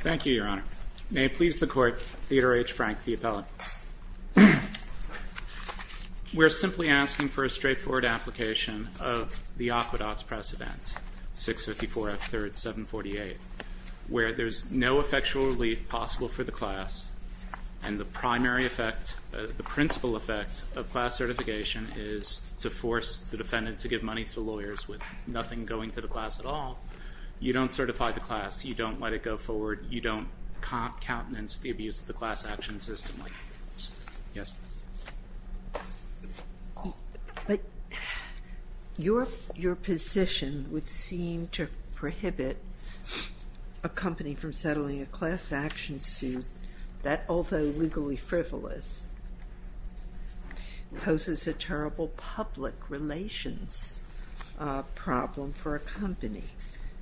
Thank you, Your Honor. May it please the Court, Theodore H. Frank, the appellant. We're simply asking for a straightforward application of the Aquedot's precedent, 654 F. 3rd. 748, where there's no effectual relief possible for the class, and the primary effect, the principal effect of class certification is to force the defendant to give money to lawyers with nothing going to the class at all. You don't certify the class, you don't let it go forward, you don't countenance the abuse of the class action system like this. Yes? But your position would seem to prohibit a company from settling a class action suit that although legally frivolous, poses a terrible public relations problem for a company.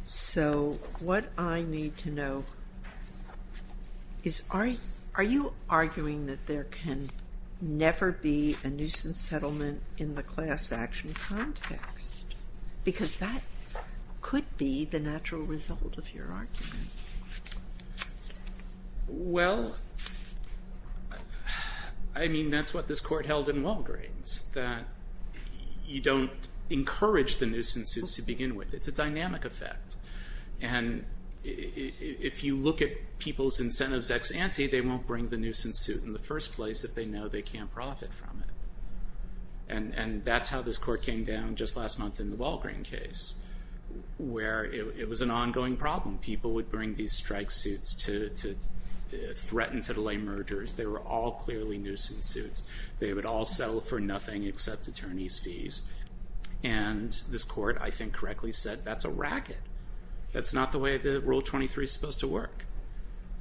So what I need to know is, are you arguing that there can never be a nuisance settlement in the class action context? Because that could be the natural result of your argument. Well, I mean, that's what this Court held in Walgreens, that you don't encourage the economic effect. And if you look at people's incentives ex ante, they won't bring the nuisance suit in the first place if they know they can't profit from it. And that's how this Court came down just last month in the Walgreen case, where it was an ongoing problem. People would bring these strike suits to threaten to delay mergers. They were all clearly nuisance suits. They would all settle for nothing except attorney's fees. And this Court, I think correctly said that's a racket. That's not the way that Rule 23 is supposed to work.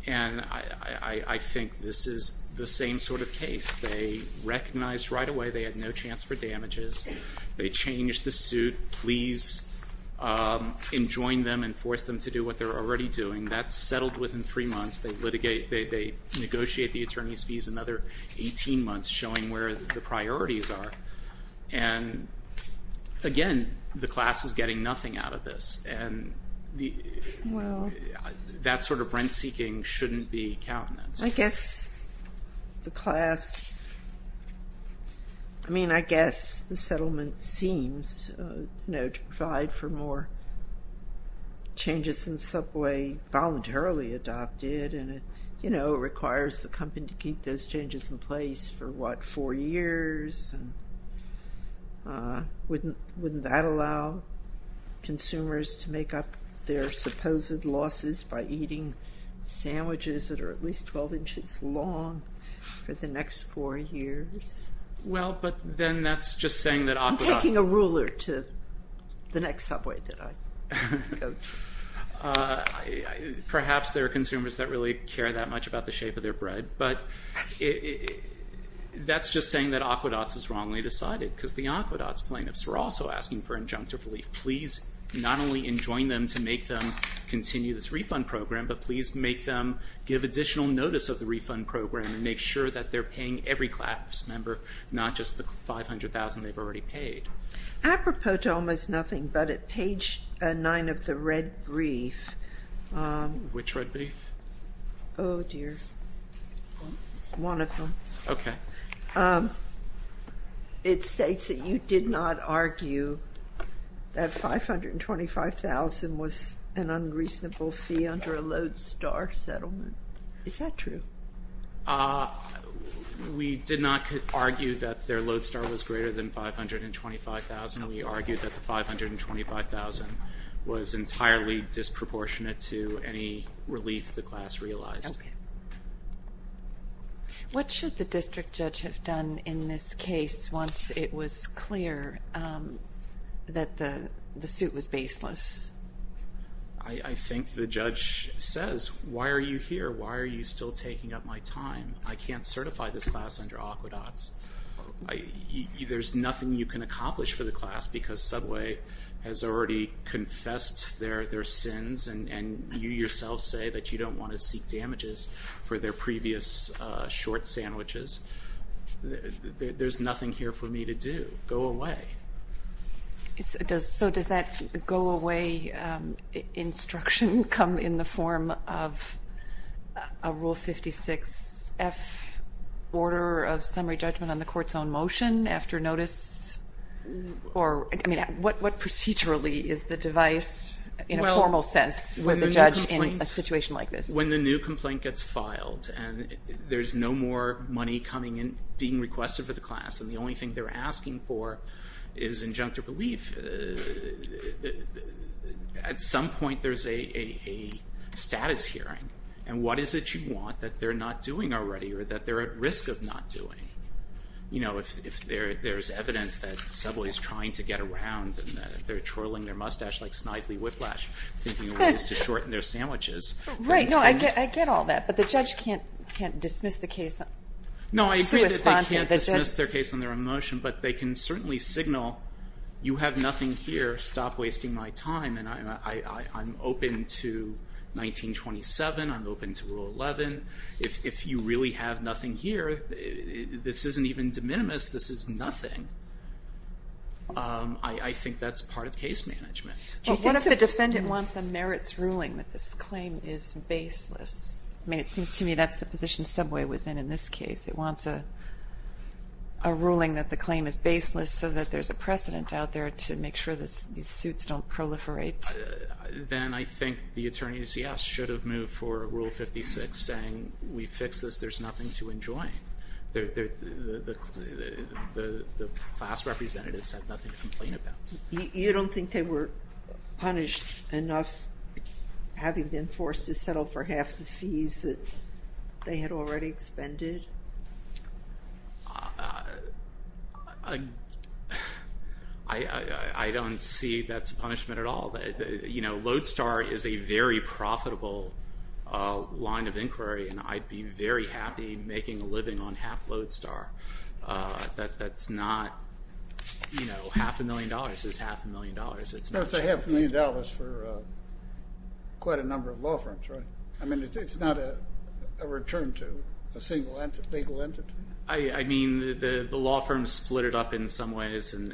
And I think this is the same sort of case. They recognized right away they had no chance for damages. They changed the suit. Please enjoin them and force them to do what they're already doing. That's settled within three months. They negotiate the attorney's fees another 18 months, showing where the priorities are. And again, the class is getting nothing out of this. And that sort of rent-seeking shouldn't be countenance. I guess the class, I mean, I guess the settlement seems to provide for more changes in subway voluntarily adopted. And it requires the company to keep those changes in place for what, four years? Wouldn't that allow consumers to make up their supposed losses by eating sandwiches that are at least 12 inches long for the next four years? Well, but then that's just saying that aqueducts... I'm taking a ruler to the next subway that I go to. Perhaps there are consumers that really care that much about the shape of their bread. But that's just saying that aqueducts was wrongly decided, because the aqueducts plaintiffs were also asking for injunctive relief. Please not only enjoin them to make them continue this refund program, but please make them give additional notice of the refund program and make sure that they're paying every class member, not just the 500,000 they've already paid. Apropos to almost nothing, but at page nine of the red brief... Which red brief? Oh, dear. One of them. Okay. It states that you did not argue that 525,000 was an unreasonable fee under a Lodestar settlement. Is that true? We did not argue that their Lodestar was greater than 525,000. We argued that the 525,000 was entirely disproportionate to any relief the class realized. Okay. What should the district judge have done in this case once it was clear that the suit was baseless? I think the judge says, why are you here? Why are you still taking up my time? I can't certify this class under aqueducts. There's nothing you can accomplish for the class because subway has already confessed their sins, and you yourself say that you don't want to seek damages for their previous short sandwiches. There's nothing here for me to do. Go away. So does that go away instruction come in the form of a Rule 56F order of summary judgment on the court's own motion after notice? I mean, what procedurally is the device in a formal sense with a judge in a situation like this? When the new complaint gets filed and there's no more money being requested for the class, and the only thing they're asking for is injunctive relief, at some point there's a status hearing. And what is it you want that they're not doing already or that they're at risk of not doing? You know, if there's evidence that subway is trying to get around, and they're twirling their mustache like Snively Whiplash thinking ways to shorten their sandwiches. Right. No, I get all that. But the judge can't dismiss the case. No, I agree that they can't dismiss their case on their own motion, but they can certainly signal, you have nothing here. Stop wasting my time. And I'm open to 1927. I'm open to Rule 11. If you really have nothing here, this isn't even de minimis. This is nothing. I think that's part of case management. What if the defendant wants a merits ruling that this claim is baseless? I mean, it seems to me that's the position subway was in in this case. It wants a ruling that the claim is baseless, so that there's a precedent out there to make sure these suits don't proliferate. Then I think the attorneys, yes, should have moved for Rule 56 saying, we fixed this, there's nothing to enjoy. The class representatives have nothing to complain about. You don't think they were punished enough, having been forced to settle for half the fees that they had already expended? I don't see that's a punishment at all. You know, Lodestar is a very profitable line of inquiry, and I'd be very happy making a living on half Lodestar. Half a million dollars is half a million dollars. That's a half a million dollars for quite a number of law firms, right? I mean, it's not a return to a single legal entity? I mean, the law firms split it up in some ways, and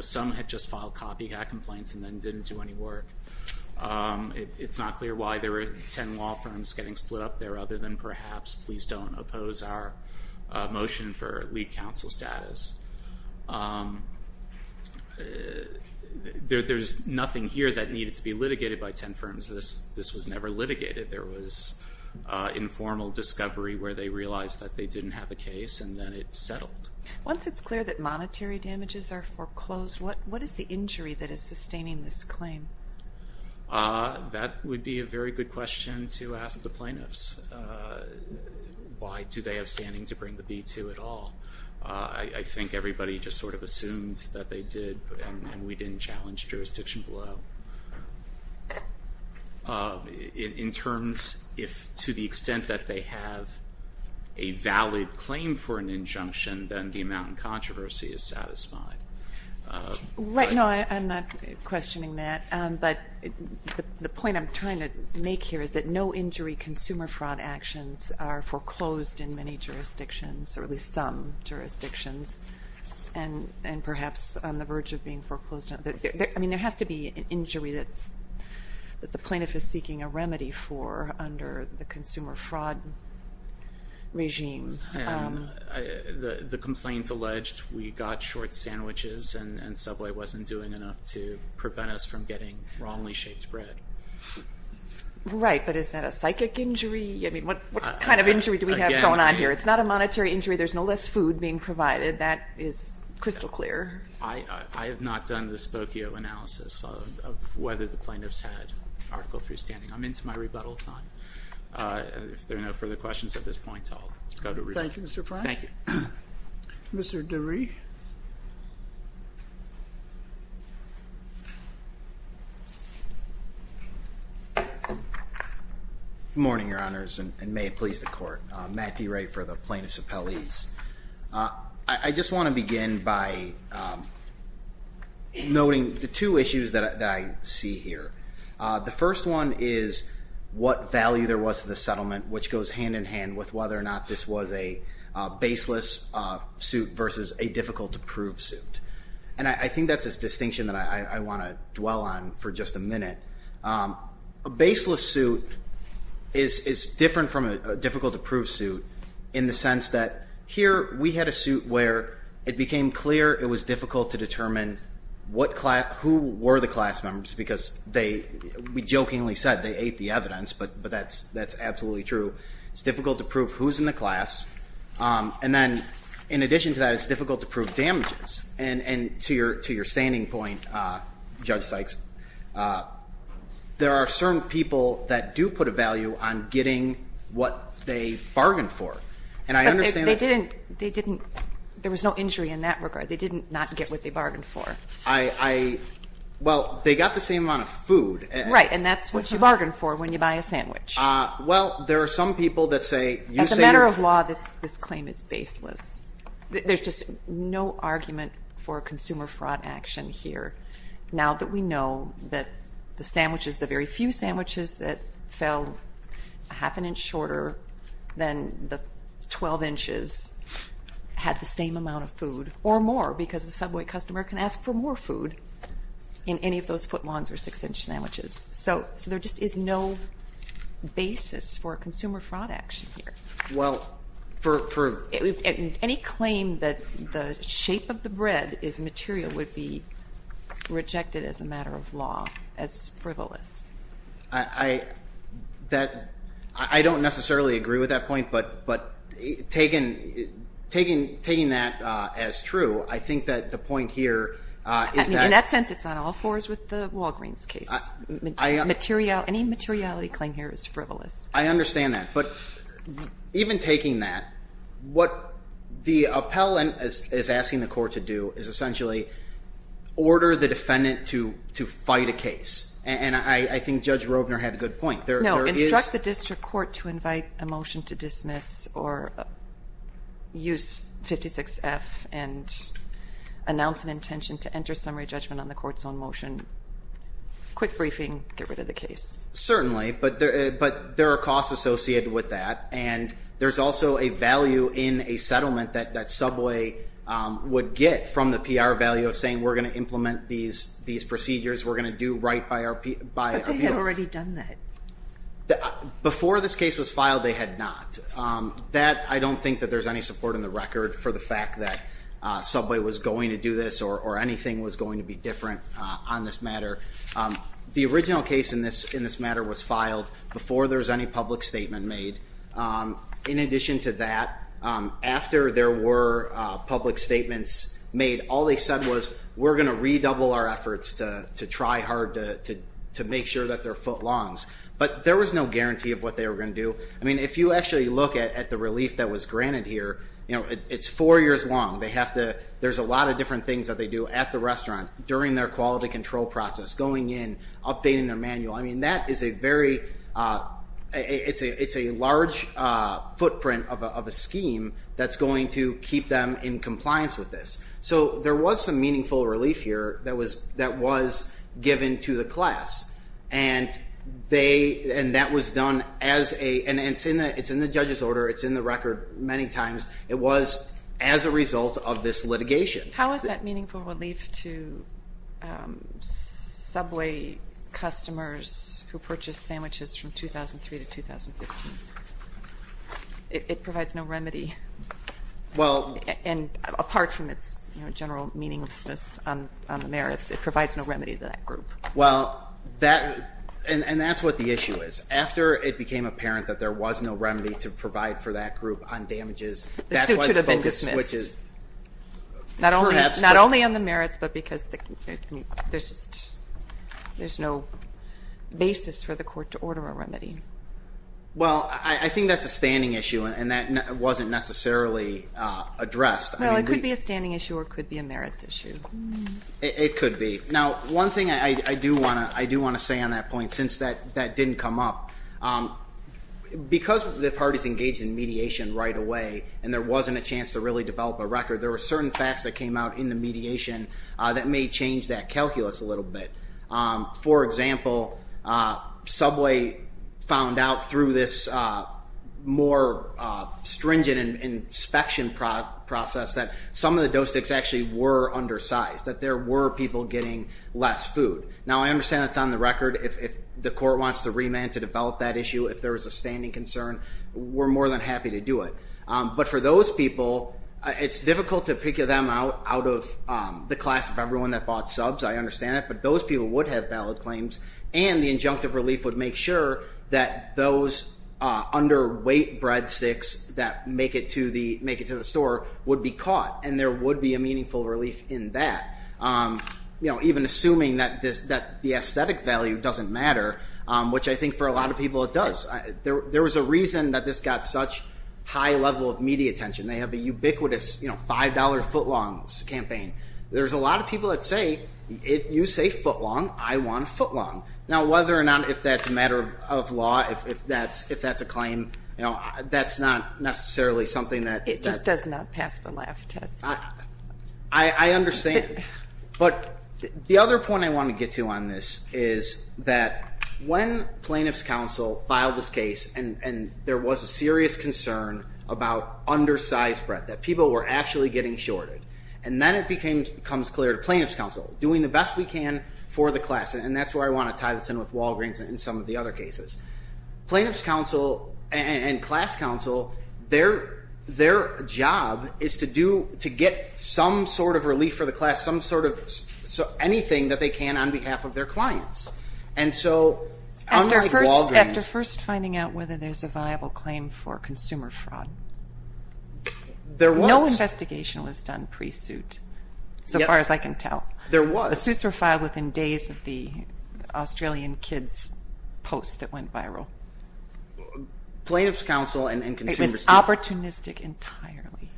some had just filed copycat complaints and then didn't do any work. It's not clear why there were ten law firms getting split up there, other than perhaps, please don't oppose our motion for lead counsel status. There's nothing here that needed to be litigated by ten firms. This was never litigated. There was informal discovery where they realized that they didn't have a case, and then it settled. Once it's clear that monetary damages are foreclosed, what is the injury that is sustaining this claim? That would be a very good question to ask the plaintiffs. Why do they have standing to bring the B-2 at all? I think everybody just sort of assumed that they did, and we didn't challenge jurisdiction below. In terms, if to the extent that they have a valid claim for an injunction, then the amount in controversy is satisfied. No, I'm not questioning that, but the point I'm trying to make here is that no injury consumer fraud actions are foreclosed in many jurisdictions, or at least some jurisdictions, and perhaps on the verge of being foreclosed. I mean, there has to be an injury that the plaintiff is seeking a remedy for under the consumer fraud regime. The complaint alleged we got short sandwiches and Subway wasn't doing enough to prevent us from getting wrongly shaped bread. Right, but is that a psychic injury? I mean, what kind of injury do we have going on here? It's not a monetary injury. There's no less food being provided. That is crystal clear. I have not done the Spokio analysis of whether the plaintiffs had article 3 standing. I'm into my rebuttal time. If there are no further questions at this point, I'll go to rebuttal. Thank you, Mr. Frank. Thank you. Mr. DeRee. Good morning, Your Honors, and may it please the Court. Matt DeRee for the Plaintiffs Appellees. I just want to begin by noting the two issues that I see here. The first one is what value there was to the settlement, which goes hand-in-hand with whether or not this was a baseless suit versus a difficult-to-prove suit. And I think that's a distinction that I want to dwell on for just a minute. A baseless suit is different from a difficult-to-prove suit in the sense that here we had a suit where it became clear it was difficult to determine who were the class members because they, we jokingly said they ate the evidence, but that's absolutely true. It's difficult to prove who's in the class. And then in addition to that, it's difficult to prove damages. And to your standing point, Judge Sykes, there are certain people that do put a value on getting what they bargained for. And I understand that. But they didn't, there was no injury in that regard. They did not get what they bargained for. Well, they got the same amount of food. Right, and that's what you bargained for when you buy a sandwich. Well, there are some people that say you say you're As a matter of law, this claim is baseless. There's just no argument for consumer fraud action here. Now that we know that the sandwiches, the very few sandwiches that fell half an inch shorter than the 12 inches had the same amount of food or more because the subway customer can ask for more food in any of those foot lawns or six-inch sandwiches. So there just is no basis for consumer fraud action here. Well, for Any claim that the shape of the bread is material would be rejected as a matter of law, as frivolous. I don't necessarily agree with that point. But taking that as true, I think that the point here is that In that sense, it's on all fours with the Walgreens case. Any materiality claim here is frivolous. I understand that. But even taking that, what the appellant is asking the court to do is essentially order the defendant to fight a case. And I think Judge Rovner had a good point. No, instruct the district court to invite a motion to dismiss or use 56F and announce an intention to enter summary judgment on the court's own motion. Quick briefing, get rid of the case. Certainly, but there are costs associated with that. And there's also a value in a settlement that subway would get from the PR value of saying, we're going to implement these procedures, we're going to do right by our people. But they had already done that. Before this case was filed, they had not. That, I don't think that there's any support in the record for the fact that subway was going to do this or anything was going to be different on this matter. The original case in this matter was filed before there was any public statement made. In addition to that, after there were public statements made, all they said was, we're going to redouble our efforts to try hard to make sure that their foot longs. But there was no guarantee of what they were going to do. I mean, if you actually look at the relief that was granted here, it's four years long. There's a lot of different things that they do at the restaurant during their quality control process, going in, updating their manual. I mean, that is a very, it's a large footprint of a scheme that's going to keep them in compliance with this. So there was some meaningful relief here that was given to the class. And that was done as a, and it's in the judge's order, it's in the record many times, it was as a result of this litigation. How is that meaningful relief to subway customers who purchased sandwiches from 2003 to 2015? It provides no remedy. And apart from its general meaninglessness on the merits, it provides no remedy to that group. Well, that, and that's what the issue is. After it became apparent that there was no remedy to provide for that group on damages, that's why the focus switch is perhaps. Not only on the merits, but because there's no basis for the court to order a remedy. Well, I think that's a standing issue, and that wasn't necessarily addressed. No, it could be a standing issue or it could be a merits issue. It could be. Now, one thing I do want to say on that point, since that didn't come up, because the parties engaged in mediation right away and there wasn't a chance to really develop a record, there were certain facts that came out in the mediation that may change that calculus a little bit. For example, subway found out through this more stringent inspection process that some of the dough sticks actually were undersized, that there were people getting less food. Now, I understand that's on the record. If the court wants to remand to develop that issue, if there was a standing concern, we're more than happy to do it. But for those people, it's difficult to pick them out of the class of everyone that bought subs. I understand that, but those people would have valid claims, and the injunctive relief would make sure that those underweight breadsticks that make it to the store would be caught, and there would be a meaningful relief in that, even assuming that the aesthetic value doesn't matter, which I think for a lot of people it does. There was a reason that this got such high level of media attention. They have a ubiquitous $5 footlong campaign. There's a lot of people that say, you say footlong, I want footlong. Now, whether or not if that's a matter of law, if that's a claim, that's not necessarily something that- It just does not pass the laugh test. I understand. But the other point I want to get to on this is that when plaintiff's counsel filed this case and there was a serious concern about undersized bread, that people were actually getting shorted, and then it becomes clear to plaintiff's counsel, doing the best we can for the class, and that's where I want to tie this in with Walgreens and some of the other cases. Plaintiff's counsel and class counsel, their job is to get some sort of relief for the class, some sort of anything that they can on behalf of their clients, and so unlike Walgreens- After first finding out whether there's a viable claim for consumer fraud, there was- No investigation was done pre-suit, so far as I can tell. There was. The suits were filed within days of the Australian Kids post that went viral. Plaintiff's counsel and consumers- It was opportunistic entirely.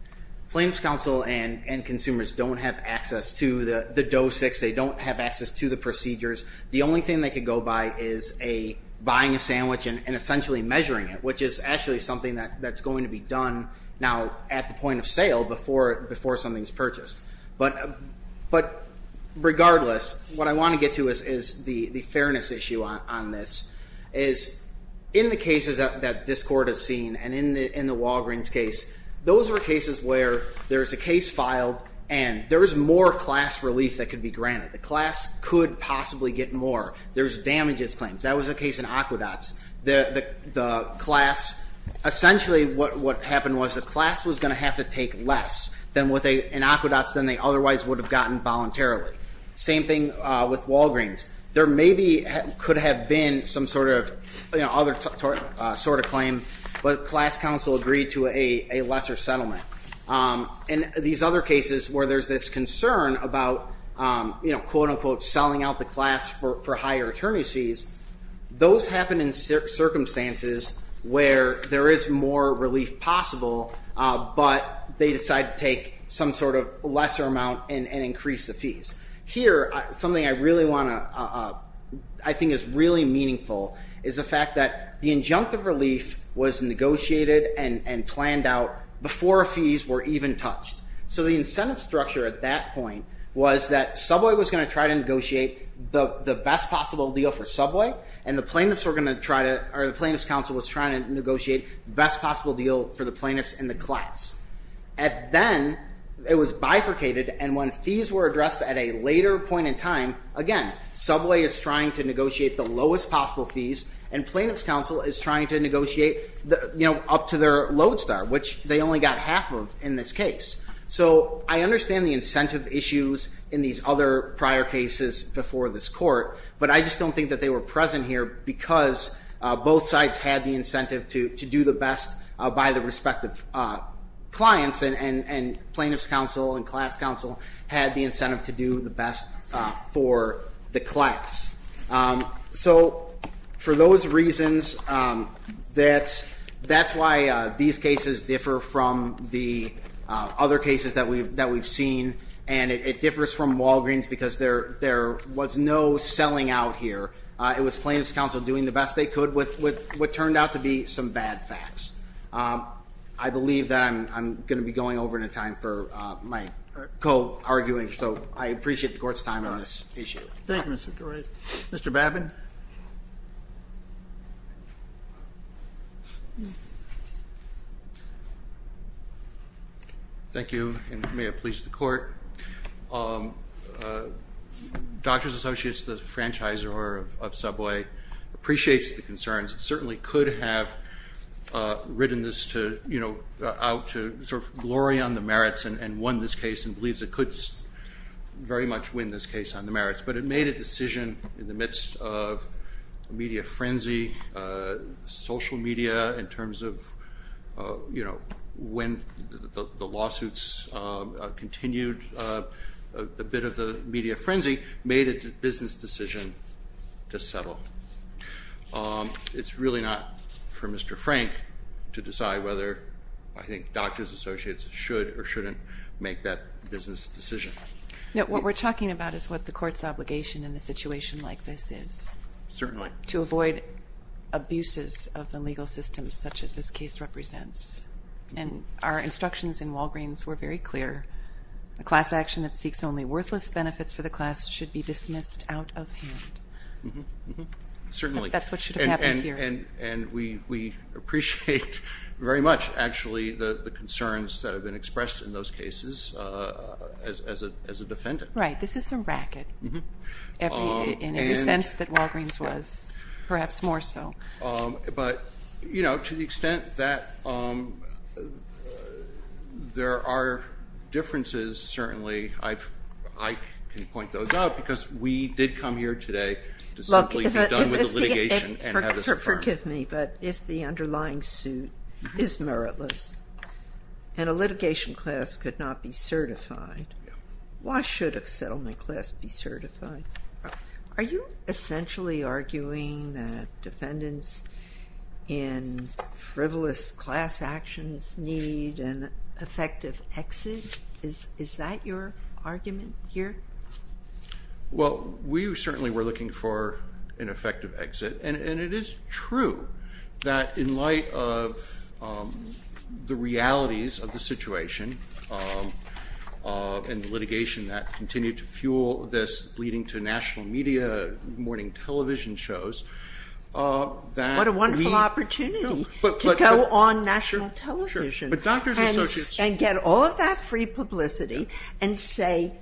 Plaintiff's counsel and consumers don't have access to the dosix. They don't have access to the procedures. The only thing they could go by is buying a sandwich and essentially measuring it, which is actually something that's going to be done now at the point of sale before something's purchased. But regardless, what I want to get to is the fairness issue on this, is in the cases that this court has seen and in the Walgreens case, those were cases where there's a case filed and there was more class relief that could be granted. The class could possibly get more. There's damages claims. That was the case in Aquedots. The class- Essentially what happened was the class was going to have to take less in Aquedots than they otherwise would have gotten voluntarily. Same thing with Walgreens. There maybe could have been some sort of other sort of claim, but class counsel agreed to a lesser settlement. And these other cases where there's this concern about quote-unquote selling out the class for higher attorney's fees, those happen in circumstances where there is more relief possible, but they decide to take some sort of lesser amount and increase the fees. Here, something I really want to- I think is really meaningful, is the fact that the injunctive relief was negotiated and planned out before fees were even touched. The incentive structure at that point was that Subway was going to try to negotiate the best possible deal for Subway, and the plaintiff's counsel was trying to negotiate the best possible deal for the plaintiffs and the class. Then it was bifurcated, and when fees were addressed at a later point in time, again, Subway is trying to negotiate the lowest possible fees, and plaintiff's counsel is trying to negotiate up to their lodestar, which they only got half of in this case. So I understand the incentive issues in these other prior cases before this court, but I just don't think that they were present here because both sides had the incentive to do the best by the respective clients, and plaintiff's counsel and class counsel had the incentive to do the best for the class. So for those reasons, that's why these cases differ from the other cases that we've seen, and it differs from Walgreens because there was no selling out here. It was plaintiff's counsel doing the best they could with what turned out to be some bad facts. I believe that I'm going to be going over in a time for my co-arguing, so I appreciate the court's time on this issue. Thank you, Mr. Dorais. Mr. Babin. Thank you, and may it please the court. Doctors Associates, the franchisor of Subway, appreciates the concerns. It certainly could have ridden this out to sort of glory on the merits and won this case and believes it could very much win this case on the merits, but it made a decision in the midst of a media frenzy, social media, in terms of when the lawsuits continued a bit of the media frenzy, made a business decision to settle. It's really not for Mr. Frank to decide whether I think Doctors Associates should or shouldn't make that business decision. No, what we're talking about is what the court's obligation in a situation like this is. Certainly. To avoid abuses of the legal system such as this case represents, and our instructions in Walgreens were very clear. A class action that seeks only worthless benefits for the class should be dismissed out of hand. Certainly. That's what should have happened here. And we appreciate very much, actually, the concerns that have been expressed in those cases as a defendant. Right. This is a racket in every sense that Walgreens was, perhaps more so. But, you know, to the extent that there are differences, certainly, I can point those out because we did come here today to simply be done with the litigation and have this affirmed. Forgive me, but if the underlying suit is meritless and a litigation class could not be certified, why should a settlement class be certified? Are you essentially arguing that defendants in frivolous class actions need an effective exit? Is that your argument here? Well, we certainly were looking for an effective exit, and it is true that in light of the realities of the situation and the litigation that continued to fuel this, leading to national media, morning television shows, that we. What a wonderful opportunity to go on national television. Sure. And say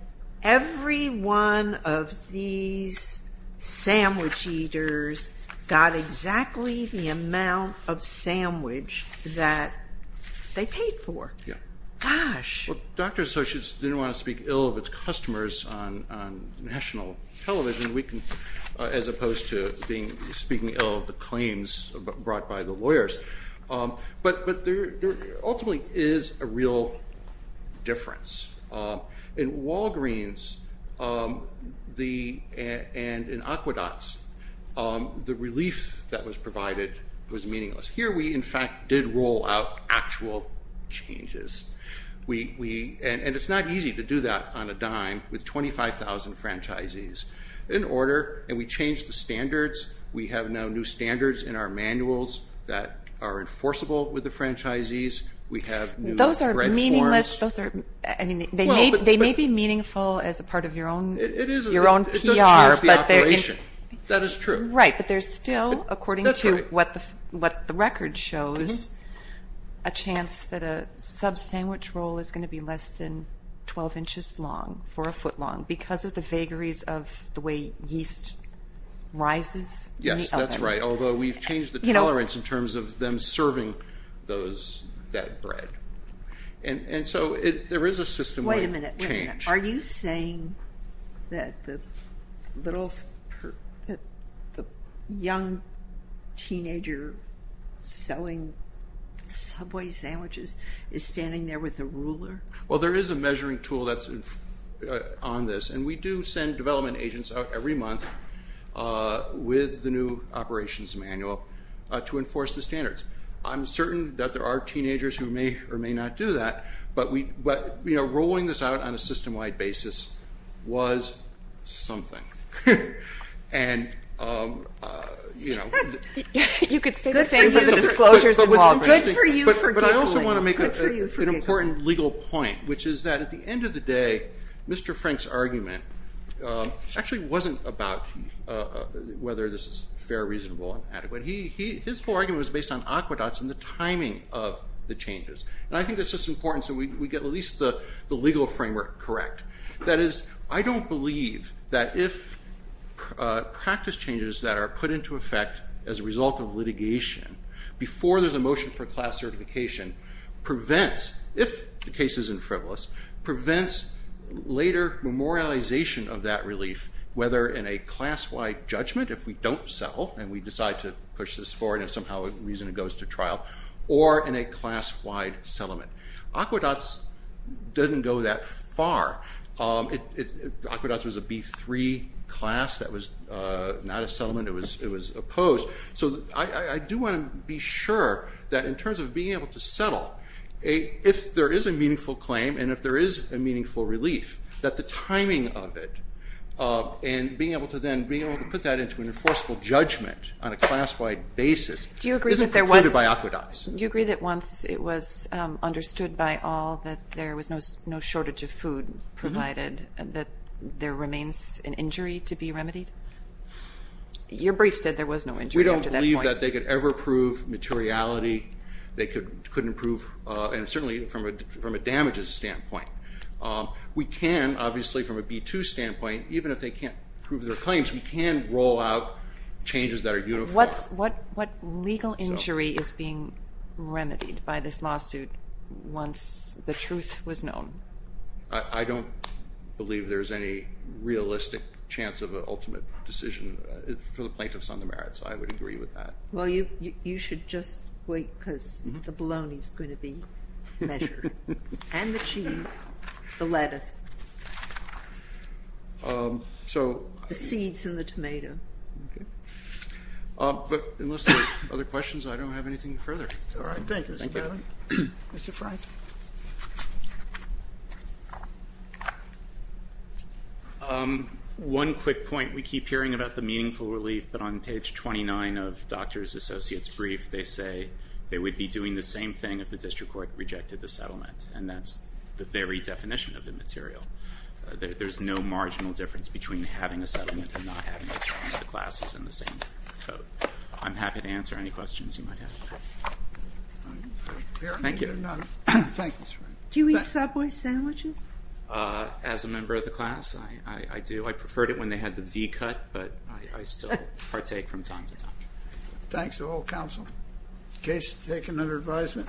every one of these sandwich eaters got exactly the amount of sandwich that they paid for. Yeah. Gosh. Well, Doctors Associates didn't want to speak ill of its customers on national television, as opposed to speaking ill of the claims brought by the lawyers. But there ultimately is a real difference. In Walgreens and in Aquedots, the relief that was provided was meaningless. Here we, in fact, did roll out actual changes. And it's not easy to do that on a dime with 25,000 franchisees in order, and we changed the standards. We have now new standards in our manuals that are enforceable with the franchisees. We have new bread forms. Those are meaningless. I mean, they may be meaningful as a part of your own PR. It does cheer up the operation. That is true. Right. But there's still, according to what the record shows, a chance that a sub-sandwich roll is going to be less than 12 inches long, for a foot long, because of the vagaries of the way yeast rises. Yes, that's right, although we've changed the tolerance in terms of them serving that bread. And so there is a system change. Wait a minute. Are you saying that the young teenager selling Subway sandwiches is standing there with a ruler? Well, there is a measuring tool that's on this, and we do send development agents out every month with the new operations manual to enforce the standards. I'm certain that there are teenagers who may or may not do that, but rolling this out on a system-wide basis was something. You could say the same for the disclosures involved. But I also want to make an important legal point, which is that at the end of the day, Mr. Frank's argument actually wasn't about whether this is fair, reasonable, and adequate. His whole argument was based on aqueducts and the timing of the changes. And I think that's just important so we get at least the legal framework correct. That is, I don't believe that if practice changes that are put into effect as a result of litigation, before there's a motion for class certification, prevents, if the case is in frivolous, prevents later memorialization of that relief, whether in a class-wide judgment, if we don't settle and we decide to push this forward and somehow the reason it goes to trial, or in a class-wide settlement. Aqueducts doesn't go that far. Aqueducts was a B3 class. That was not a settlement. It was opposed. So I do want to be sure that in terms of being able to settle, if there is a meaningful claim and if there is a meaningful relief, that the timing of it and being able to then put that into an enforceable judgment on a class-wide basis isn't precluded by aqueducts. Do you agree that once it was understood by all that there was no shortage of food provided, that there remains an injury to be remedied? Your brief said there was no injury after that point. We don't believe that they could ever prove materiality. They couldn't prove, and certainly from a damages standpoint. We can, obviously, from a B2 standpoint, even if they can't prove their claims, we can roll out changes that are uniform. What legal injury is being remedied by this lawsuit once the truth was known? I don't believe there's any realistic chance of an ultimate decision for the plaintiffs on the merits. I would agree with that. Well, you should just wait because the bologna is going to be measured, and the cheese, the lettuce, the seeds, and the tomato. Okay. But unless there are other questions, I don't have anything further. All right. Thank you, Mr. Bannon. Thank you. Mr. Fry? One quick point. We keep hearing about the meaningful relief, but on page 29 of Dr. Associates' brief, they say they would be doing the same thing if the district court rejected the settlement, and that's the very definition of immaterial. There's no marginal difference between having a settlement and not having a settlement. The class is in the same boat. I'm happy to answer any questions you might have. Thank you. Do you eat Subway sandwiches? As a member of the class, I do. I preferred it when they had the V-cut, but I still partake from time to time. Thanks to all counsel. Case is taken under advisement.